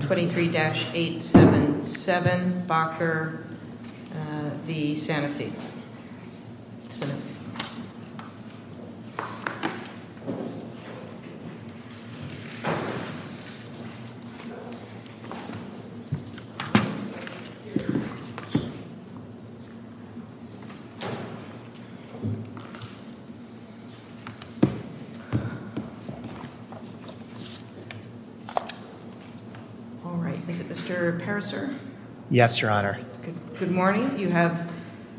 23-877 Bacher v. Sanofi. All right. Is it Mr. Pariser? Yes, Your Honor. Good morning. You have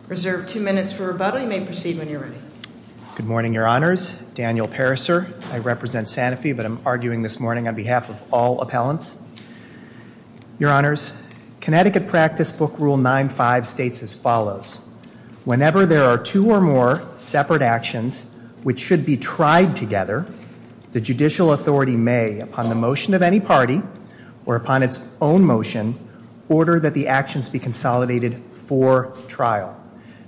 reserved two minutes for rebuttal. You may proceed when you're ready. Good morning, Your Honors. Daniel Pariser. I represent Sanofi, but I'm arguing this morning on behalf of all appellants. Your Honors, Connecticut Practice Book Rule 9-5 states as follows. Whenever there are two or more separate actions which should be tried together, the judicial authority may, upon the motion of any party or upon its own motion, order that the actions be consolidated for trial.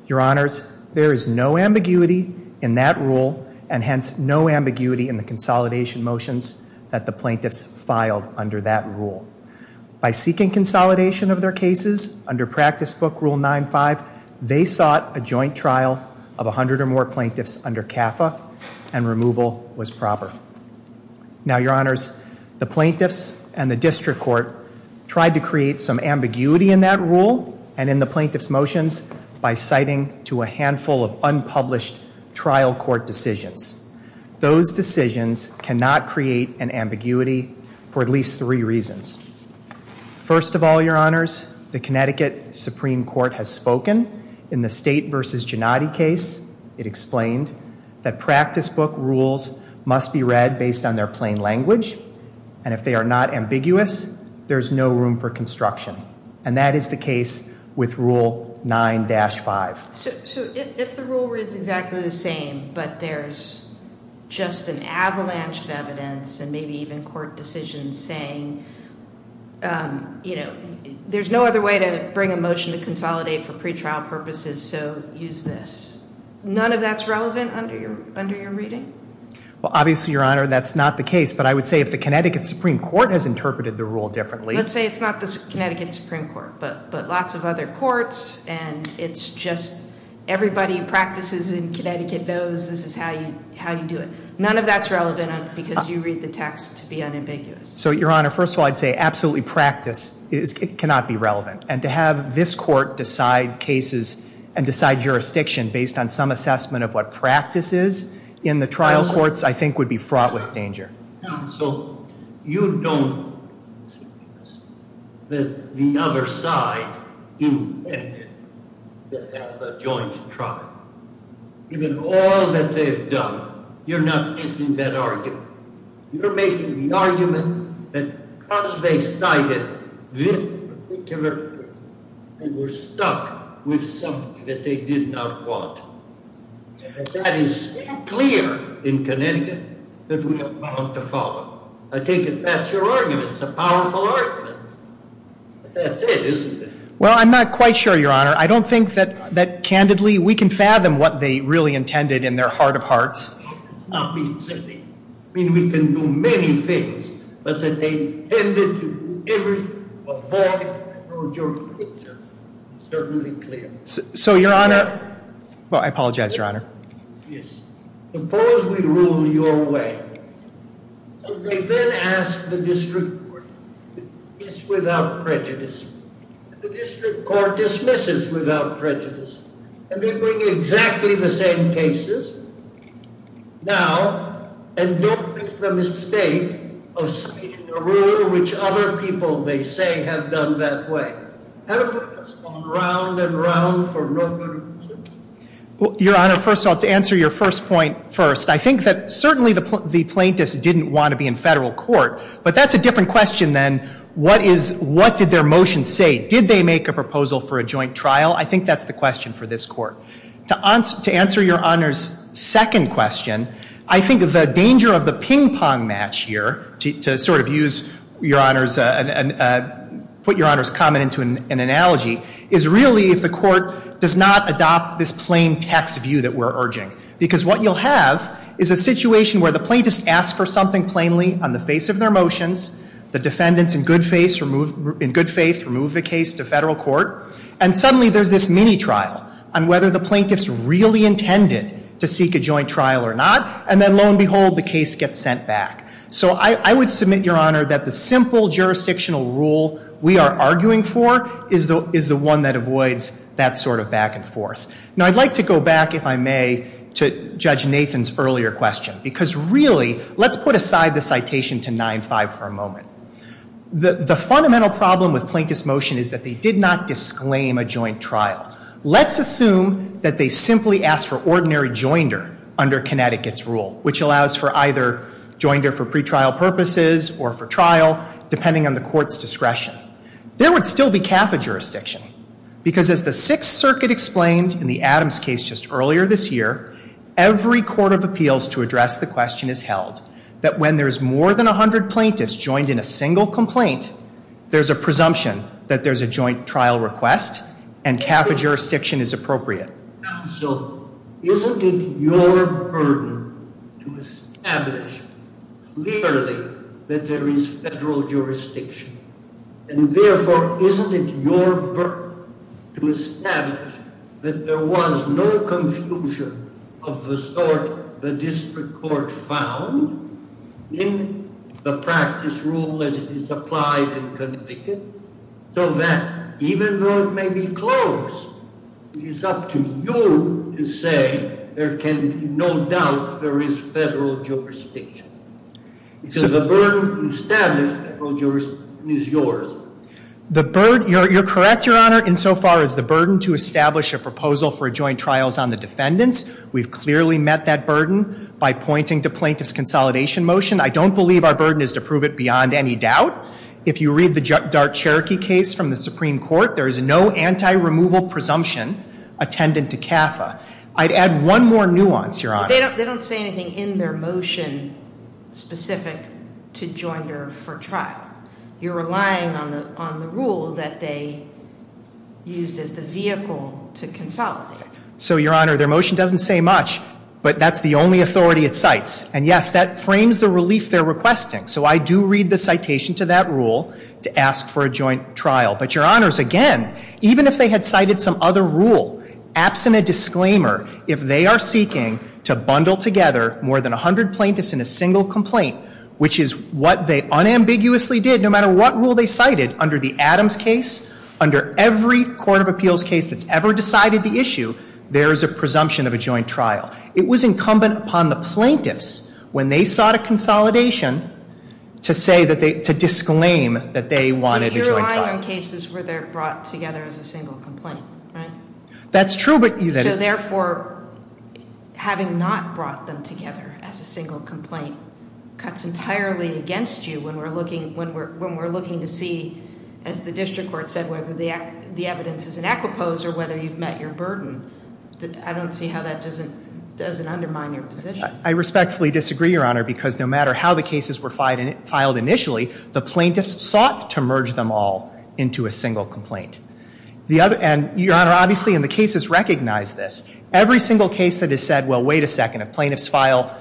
Your Honors, there is no ambiguity in that rule and hence no ambiguity in the consolidation motions that the plaintiffs filed under that rule. By seeking consolidation of their cases under Practice Book Rule 9-5, they sought a joint trial of 100 or more plaintiffs under CAFA and removal was proper. Now, Your Honors, the plaintiffs and the district court tried to create some ambiguity in that rule and in the plaintiffs' motions by citing to a handful of unpublished trial court decisions. Those decisions cannot create an ambiguity for at least three reasons. First of all, Your Honors, the Connecticut Supreme Court has spoken in the State v. Gennady case. It explained that Practice Book Rules must be read based on their plain language, and if they are not ambiguous, there is no room for construction. And that is the case with Rule 9-5. So if the rule reads exactly the same, but there's just an avalanche of evidence and maybe even court decisions saying, you know, there's no other way to bring a motion to consolidate for pretrial purposes, so use this. None of that's relevant under your reading? Well, obviously, Your Honor, that's not the case, but I would say if the Connecticut Supreme Court has interpreted the rule differently. Let's say it's not the Connecticut Supreme Court, but lots of other courts, and it's just everybody who practices in Connecticut knows this is how you do it. None of that's relevant because you read the text to be unambiguous. So, Your Honor, first of all, I'd say absolutely practice cannot be relevant. And to have this court decide cases and decide jurisdiction based on some assessment of what practice is in the trial courts I think would be fraught with danger. So you don't see that the other side intended to have a joint trial. Given all that they've done, you're not making that argument. You're making the argument that because they cited this particular case, they were stuck with something that they did not want. And that is so clear in Connecticut that we don't want to follow. I think that's your argument. It's a powerful argument. But that's it, isn't it? Well, I'm not quite sure, Your Honor. I don't think that, candidly, we can fathom what they really intended in their heart of hearts. That does not mean simply. I mean, we can do many things, but that they tended to avoid a broader picture is certainly clear. So, Your Honor, well, I apologize, Your Honor. Yes. Suppose we rule your way. And they then ask the district court to dismiss without prejudice. And the district court dismisses without prejudice. And they bring exactly the same cases now. And don't make the mistake of speaking a rule which other people may say have done that way. Well, Your Honor, first of all, to answer your first point first, I think that certainly the plaintiffs didn't want to be in federal court. But that's a different question than what did their motion say? Did they make a proposal for a joint trial? I think that's the question for this court. To answer Your Honor's second question, I think the danger of the ping pong match here, to sort of use Your Honor's, put Your Honor's comment into an analogy, is really if the court does not adopt this plain text view that we're urging. Because what you'll have is a situation where the plaintiffs ask for something plainly on the face of their motions. The defendants in good faith remove the case to federal court. And suddenly there's this mini trial on whether the plaintiffs really intended to seek a joint trial or not. And then, lo and behold, the case gets sent back. So I would submit, Your Honor, that the simple jurisdictional rule we are arguing for is the one that avoids that sort of back and forth. Now, I'd like to go back, if I may, to Judge Nathan's earlier question. Because really, let's put aside the citation to 9-5 for a moment. The fundamental problem with plaintiff's motion is that they did not disclaim a joint trial. Let's assume that they simply asked for ordinary joinder under Connecticut's rule, which allows for either joinder for pretrial purposes or for trial, depending on the court's discretion. There would still be CAFA jurisdiction. Because as the Sixth Circuit explained in the Adams case just earlier this year, every court of appeals to address the question has held that when there's more than 100 plaintiffs joined in a single complaint, there's a presumption that there's a joint trial request, and CAFA jurisdiction is appropriate. Counsel, isn't it your burden to establish clearly that there is federal jurisdiction? And therefore, isn't it your burden to establish that there was no confusion of the sort the district court found in the practice rule as it is applied in Connecticut, so that even though it may be closed, it is up to you to say there can be no doubt there is federal jurisdiction? Because the burden to establish federal jurisdiction is yours. The burden, you're correct, Your Honor, insofar as the burden to establish a proposal for a joint trial is on the defendants. We've clearly met that burden by pointing to plaintiff's consolidation motion. I don't believe our burden is to prove it beyond any doubt. If you read the Dart-Cherokee case from the Supreme Court, there is no anti-removal presumption attendant to CAFA. I'd add one more nuance, Your Honor. They don't say anything in their motion specific to joinder for trial. You're relying on the rule that they used as the vehicle to consolidate. So, Your Honor, their motion doesn't say much, but that's the only authority it cites. And, yes, that frames the relief they're requesting. So I do read the citation to that rule to ask for a joint trial. But, Your Honors, again, even if they had cited some other rule, absent a disclaimer, if they are seeking to bundle together more than 100 plaintiffs in a single complaint, which is what they unambiguously did, no matter what rule they cited, under the Adams case, under every court of appeals case that's ever decided the issue, there is a presumption of a joint trial. It was incumbent upon the plaintiffs, when they sought a consolidation, to disclaim that they wanted a joint trial. But you're relying on cases where they're brought together as a single complaint, right? That's true, but- So, therefore, having not brought them together as a single complaint cuts entirely against you when we're looking to see, as the district court said, whether the evidence is in equipose or whether you've met your burden. I don't see how that doesn't undermine your position. I respectfully disagree, Your Honor, because no matter how the cases were filed initially, the plaintiffs sought to merge them all into a single complaint. And, Your Honor, obviously, and the cases recognize this, every single case that has said, well, wait a second, if plaintiffs file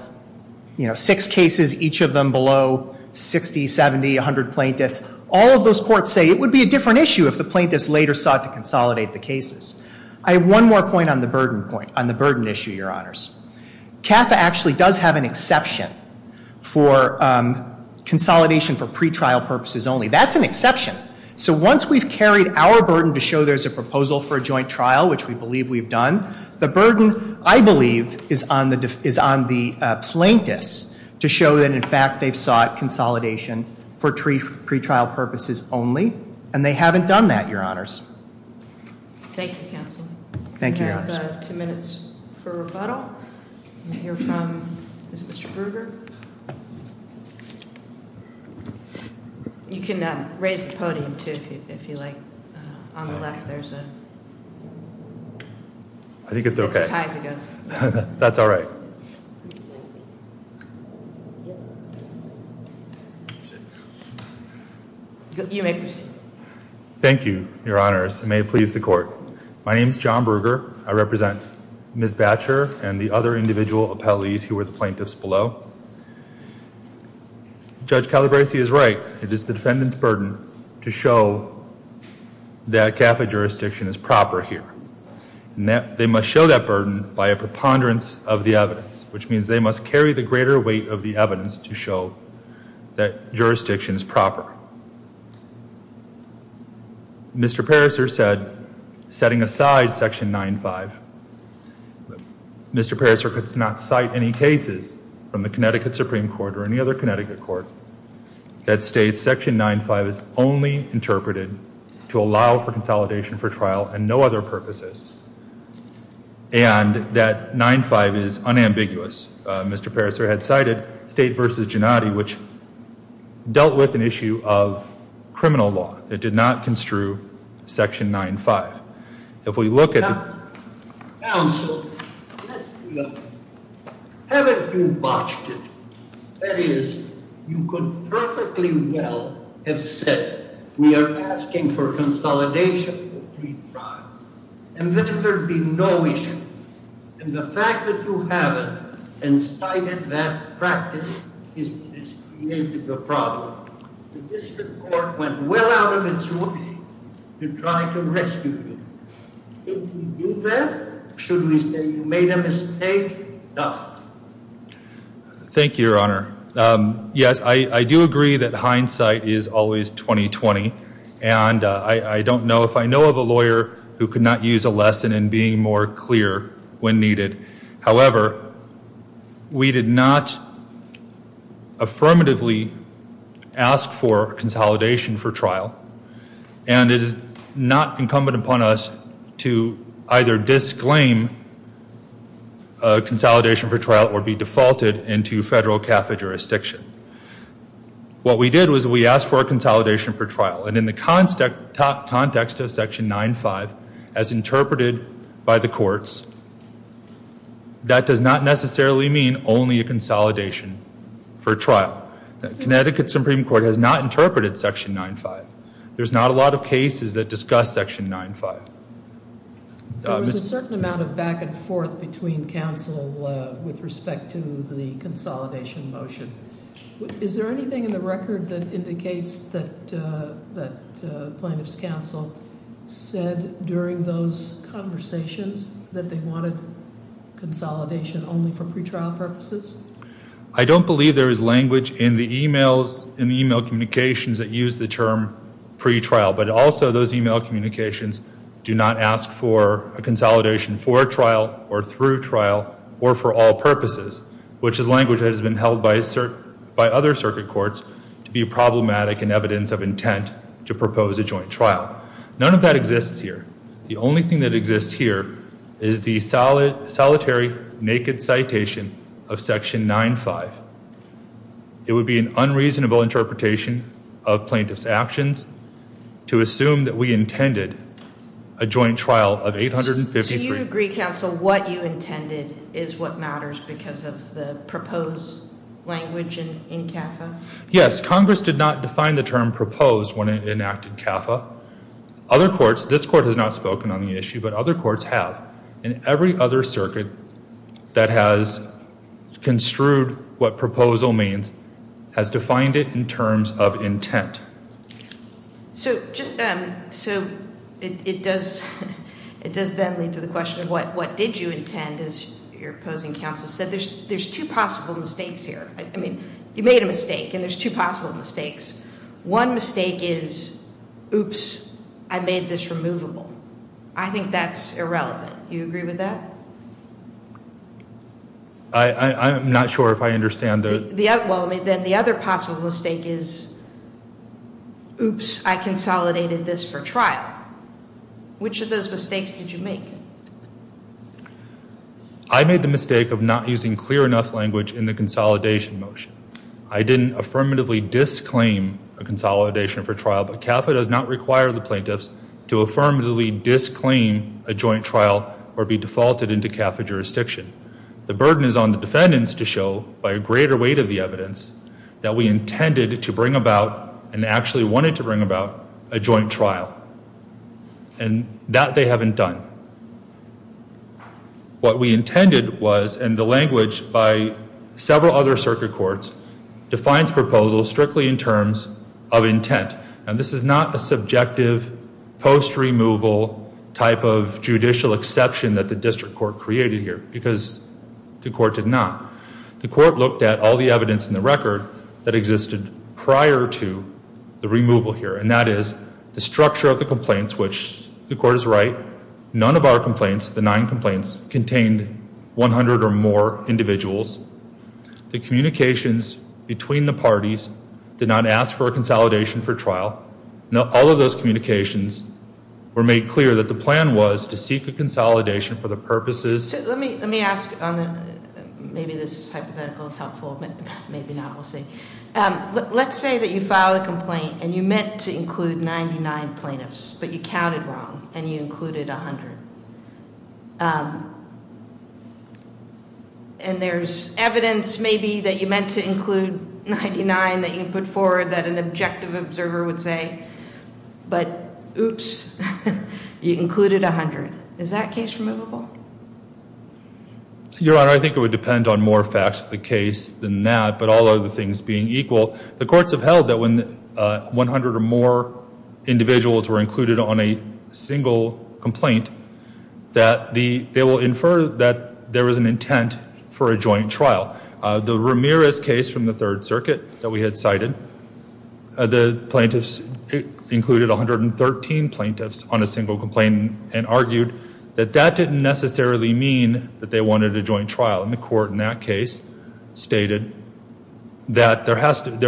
six cases, each of them below 60, 70, 100 plaintiffs, all of those courts say it would be a different issue if the plaintiffs later sought to consolidate the cases. I have one more point on the burden point, on the burden issue, Your Honors. CAFA actually does have an exception for consolidation for pretrial purposes only. That's an exception. So once we've carried our burden to show there's a proposal for a joint trial, which we believe we've done, the burden, I believe, is on the plaintiffs to show that, in fact, they've sought consolidation for pretrial purposes only, and they haven't done that, Your Honors. Thank you, Counsel. Thank you, Your Honors. We have two minutes for rebuttal. We'll hear from Mr. Berger. You can raise the podium, too, if you like. On the left, there's a- I think it's okay. It's as high as it goes. That's all right. You may proceed. Thank you, Your Honors. It may please the Court. My name is John Berger. I represent Ms. Batcher and the other individual appellees who were the plaintiffs below. Judge Calabresi is right. It is the defendant's burden to show that CAFA jurisdiction is proper here. They must show that burden by a preponderance of the evidence, which means they must carry the greater weight of the evidence to show that jurisdiction is proper. Mr. Pariser said, setting aside Section 9-5, Mr. Pariser could not cite any cases from the Connecticut Supreme Court or any other Connecticut court that state Section 9-5 is only interpreted to allow for consolidation for trial and no other purposes, and that 9-5 is unambiguous. Mr. Pariser had cited State v. Gennady, which dealt with an issue of criminal law. It did not construe Section 9-5. If we look at- Counsel, haven't you botched it? That is, you could perfectly well have said, we are asking for consolidation for pre-trial, and then there'd be no issue. And the fact that you haven't incited that practice has created a problem. The district court went well out of its way to try to rescue you. Did you do that? Should we say you made a mistake? No. Thank you, Your Honor. Yes, I do agree that hindsight is always 20-20, and I don't know if I know of a lawyer who could not use a lesson in being more clear when needed. However, we did not affirmatively ask for consolidation for trial, and it is not incumbent upon us to either disclaim consolidation for trial or be defaulted into federal CAFA jurisdiction. What we did was we asked for a consolidation for trial, and in the context of Section 9-5, as interpreted by the courts, that does not necessarily mean only a consolidation for trial. Connecticut Supreme Court has not interpreted Section 9-5. There's not a lot of cases that discuss Section 9-5. There was a certain amount of back and forth between counsel with respect to the consolidation motion. Is there anything in the record that indicates that plaintiff's counsel said during those conversations that they wanted consolidation only for pretrial purposes? I don't believe there is language in the e-mails and e-mail communications that use the term pretrial, but also those e-mail communications do not ask for a consolidation for trial or through trial or for all purposes, which is language that has been held by other circuit courts to be problematic in evidence of intent to propose a joint trial. None of that exists here. The only thing that exists here is the solitary, naked citation of Section 9-5. It would be an unreasonable interpretation of plaintiff's actions to assume that we intended a joint trial of 853. Do you agree, counsel, what you intended is what matters because of the proposed language in CAFA? Yes. Congress did not define the term proposed when it enacted CAFA. Other courts, this court has not spoken on the issue, but other courts have. And every other circuit that has construed what proposal means has defined it in terms of intent. So it does then lead to the question of what did you intend as your opposing counsel said. There's two possible mistakes here. I mean, you made a mistake, and there's two possible mistakes. One mistake is, oops, I made this removable. I think that's irrelevant. Do you agree with that? I'm not sure if I understand. Well, then the other possible mistake is, oops, I consolidated this for trial. Which of those mistakes did you make? I made the mistake of not using clear enough language in the consolidation motion. I didn't affirmatively disclaim a consolidation for trial, but CAFA does not require the plaintiffs to affirmatively disclaim a joint trial or be defaulted into CAFA jurisdiction. The burden is on the defendants to show, by a greater weight of the evidence, that we intended to bring about and actually wanted to bring about a joint trial. And that they haven't done. What we intended was, and the language by several other circuit courts, defines proposal strictly in terms of intent. And this is not a subjective post-removal type of judicial exception that the district court created here, because the court did not. The court looked at all the evidence in the record that existed prior to the removal here, and that is the structure of the complaints, which the court is right, none of our complaints, the nine complaints, contained 100 or more individuals. The communications between the parties did not ask for a consolidation for trial. All of those communications were made clear that the plan was to seek a consolidation for the purposes. Let me ask, maybe this hypothetical is helpful, maybe not, we'll see. Let's say that you filed a complaint and you meant to include 99 plaintiffs, but you counted wrong and you included 100. And there's evidence maybe that you meant to include 99 that you put forward that an objective observer would say, but oops, you included 100. Is that case removable? Your Honor, I think it would depend on more facts of the case than that, but all other things being equal, the courts have held that when 100 or more individuals were included on a single complaint, that they will infer that there was an intent for a joint trial. The Ramirez case from the Third Circuit that we had cited, the plaintiffs included 113 plaintiffs on a single complaint and argued that that didn't necessarily mean that they wanted a joint trial. And the court in that case stated that there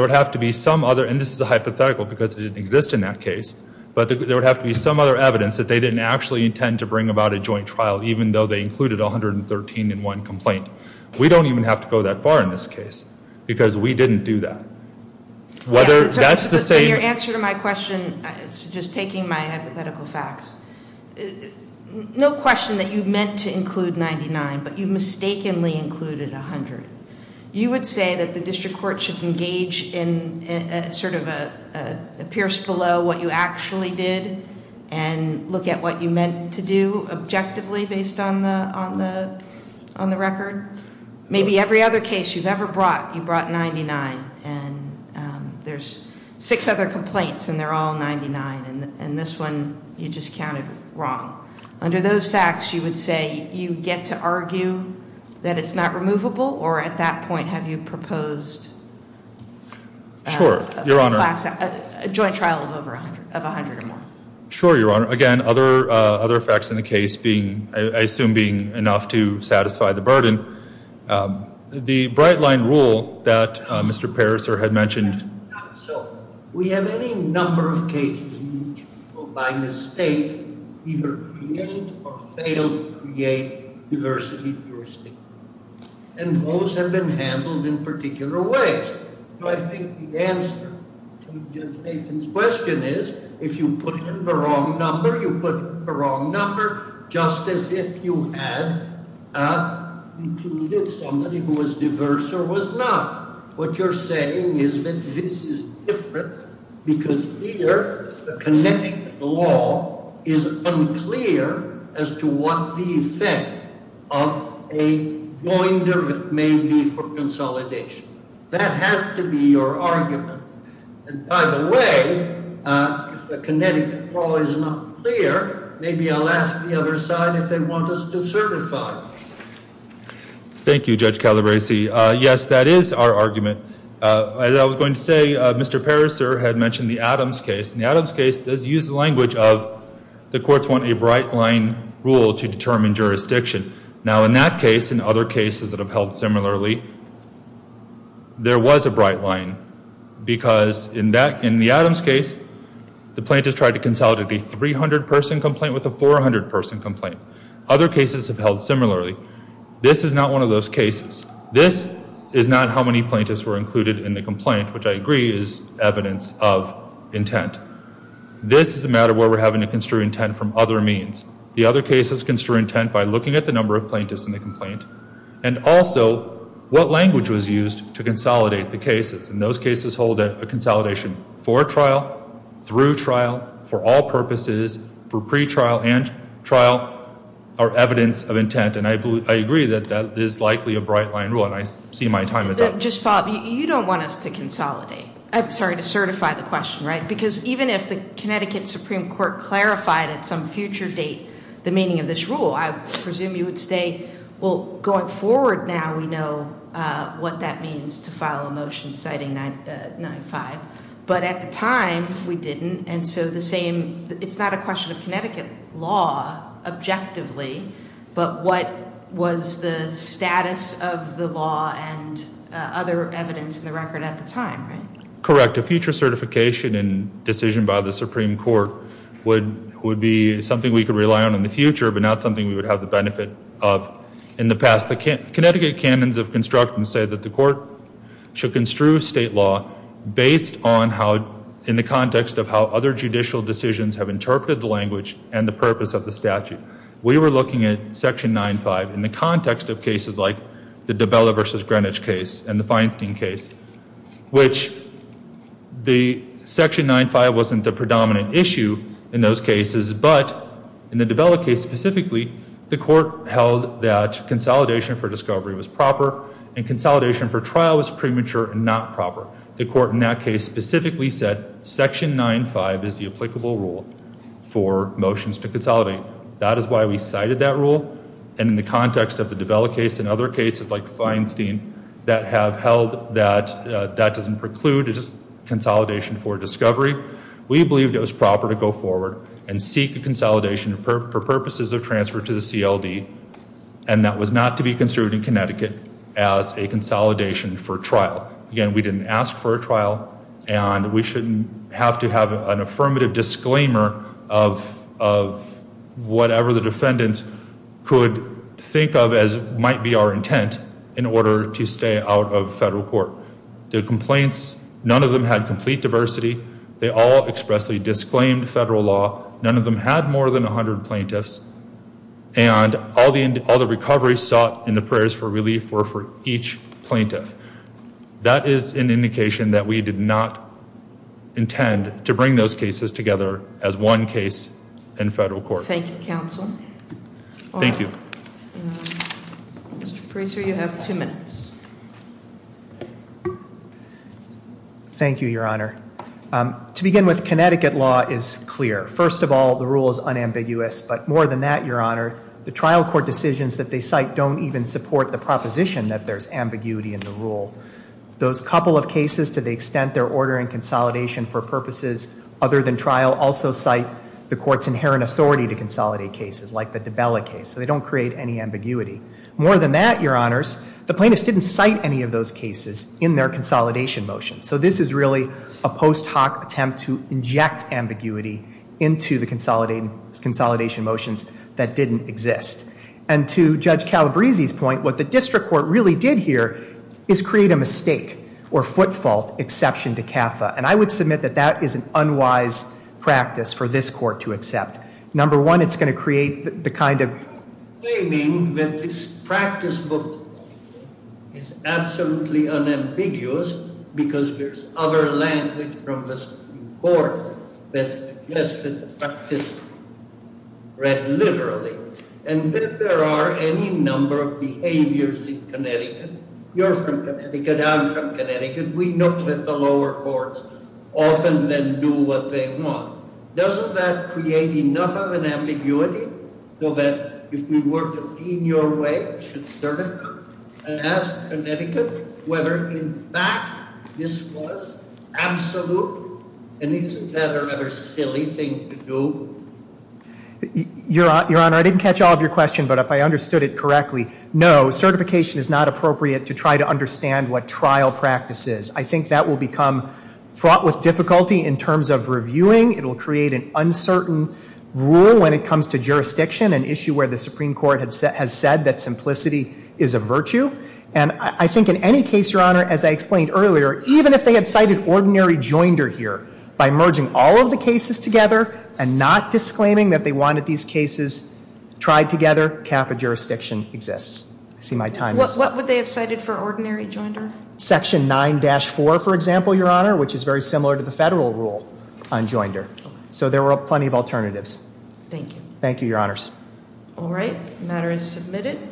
would have to be some other, and this is a hypothetical because it didn't exist in that case, but there would have to be some other evidence that they didn't actually intend to bring about a joint trial, even though they included 113 in one complaint. We don't even have to go that far in this case because we didn't do that. That's the same- Your answer to my question, just taking my hypothetical facts, no question that you meant to include 99, but you mistakenly included 100. You would say that the district court should engage in sort of a pierce below what you actually did and look at what you meant to do objectively based on the record? Maybe every other case you've ever brought, you brought 99, and there's six other complaints and they're all 99, and this one you just counted wrong. Under those facts, you would say you get to argue that it's not removable, or at that point have you proposed a joint trial of 100 or more? Sure, Your Honor. Again, other facts in the case being, I assume being enough to satisfy the burden. The bright line rule that Mr. Pariser had mentioned- Not so. We have any number of cases in which people by mistake either create or fail to create diversity jurisdiction, and those have been handled in particular ways. I think the answer to Ms. Nathan's question is if you put in the wrong number, you put in the wrong number just as if you had included somebody who was diverse or was not. What you're saying is that this is different because here, the kinetic law is unclear as to what the effect of a joinder may be for consolidation. That had to be your argument. By the way, if the kinetic law is not clear, maybe I'll ask the other side if they want us to certify. Thank you, Judge Calabresi. Yes, that is our argument. As I was going to say, Mr. Pariser had mentioned the Adams case, and the Adams case does use the language of the courts want a bright line rule to determine jurisdiction. Now, in that case and other cases that have held similarly, there was a bright line because in the Adams case, the plaintiff tried to consolidate a 300-person complaint with a 400-person complaint. Other cases have held similarly. This is not one of those cases. This is not how many plaintiffs were included in the complaint, which I agree is evidence of intent. This is a matter where we're having to construe intent from other means. The other cases construe intent by looking at the number of plaintiffs in the complaint and also what language was used to consolidate the cases. And those cases hold a consolidation for trial, through trial, for all purposes, for pretrial and trial are evidence of intent. And I agree that that is likely a bright line rule, and I see my time is up. Just follow up. You don't want us to consolidate. I'm sorry, to certify the question, right? Because even if the Connecticut Supreme Court clarified at some future date the meaning of this rule, I presume you would say, well, going forward now, we know what that means to file a motion citing 9-5. But at the time, we didn't, and so it's not a question of Connecticut law, objectively, but what was the status of the law and other evidence in the record at the time, right? Correct. Correct. A future certification and decision by the Supreme Court would be something we could rely on in the future but not something we would have the benefit of in the past. The Connecticut canons of construction say that the court should construe state law based on how, in the context of how other judicial decisions have interpreted the language and the purpose of the statute. We were looking at Section 9-5 in the context of cases like the Dabella v. Greenwich case and the Feinstein case, which the Section 9-5 wasn't the predominant issue in those cases, but in the Dabella case specifically, the court held that consolidation for discovery was proper and consolidation for trial was premature and not proper. The court in that case specifically said Section 9-5 is the applicable rule for motions to consolidate. That is why we cited that rule and in the context of the Dabella case and other cases like Feinstein that have held that that doesn't preclude consolidation for discovery, we believed it was proper to go forward and seek a consolidation for purposes of transfer to the CLD and that was not to be construed in Connecticut as a consolidation for trial. Again, we didn't ask for a trial and we shouldn't have to have an affirmative disclaimer of whatever the defendant could think of as might be our intent in order to stay out of federal court. The complaints, none of them had complete diversity. They all expressly disclaimed federal law. None of them had more than 100 plaintiffs and all the recoveries sought in the prayers for relief were for each plaintiff. That is an indication that we did not intend to bring those cases together as one case in federal court. Thank you, Counsel. Thank you. Mr. Fraser, you have two minutes. Thank you, Your Honor. To begin with, Connecticut law is clear. First of all, the rule is unambiguous, but more than that, Your Honor, the trial court decisions that they cite don't even support the proposition that there's ambiguity in the rule. Those couple of cases, to the extent they're ordering consolidation for purposes other than trial, also cite the court's inherent authority to consolidate cases like the DiBella case. So they don't create any ambiguity. More than that, Your Honors, the plaintiffs didn't cite any of those cases in their consolidation motions. So this is really a post hoc attempt to inject ambiguity into the consolidation motions that didn't exist. And to Judge Calabresi's point, what the district court really did here is create a mistake or foot fault exception to CAFA. And I would submit that that is an unwise practice for this court to accept. Number one, it's going to create the kind of Claiming that this practice book is absolutely unambiguous because there's other language from the Supreme Court that suggests that the practice is read literally. And that there are any number of behaviors in Connecticut. You're from Connecticut. I'm from Connecticut. We know that the lower courts often then do what they want. Doesn't that create enough of an ambiguity so that if we were to be in your way, we should certify and ask Connecticut whether in fact this was absolute? And isn't that a rather silly thing to do? Your Honor, I didn't catch all of your question, but if I understood it correctly, no, certification is not appropriate to try to understand what trial practice is. I think that will become fraught with difficulty in terms of reviewing. It will create an uncertain rule when it comes to jurisdiction, an issue where the Supreme Court has said that simplicity is a virtue. And I think in any case, Your Honor, as I explained earlier, even if they had cited ordinary joinder here by merging all of the cases together and not disclaiming that they wanted these cases tried together, CAFA jurisdiction exists. I see my time is up. What would they have cited for ordinary joinder? Section 9-4, for example, Your Honor, which is very similar to the federal rule on joinder. So there were plenty of alternatives. Thank you. Thank you, Your Honors. All right. The matter is submitted.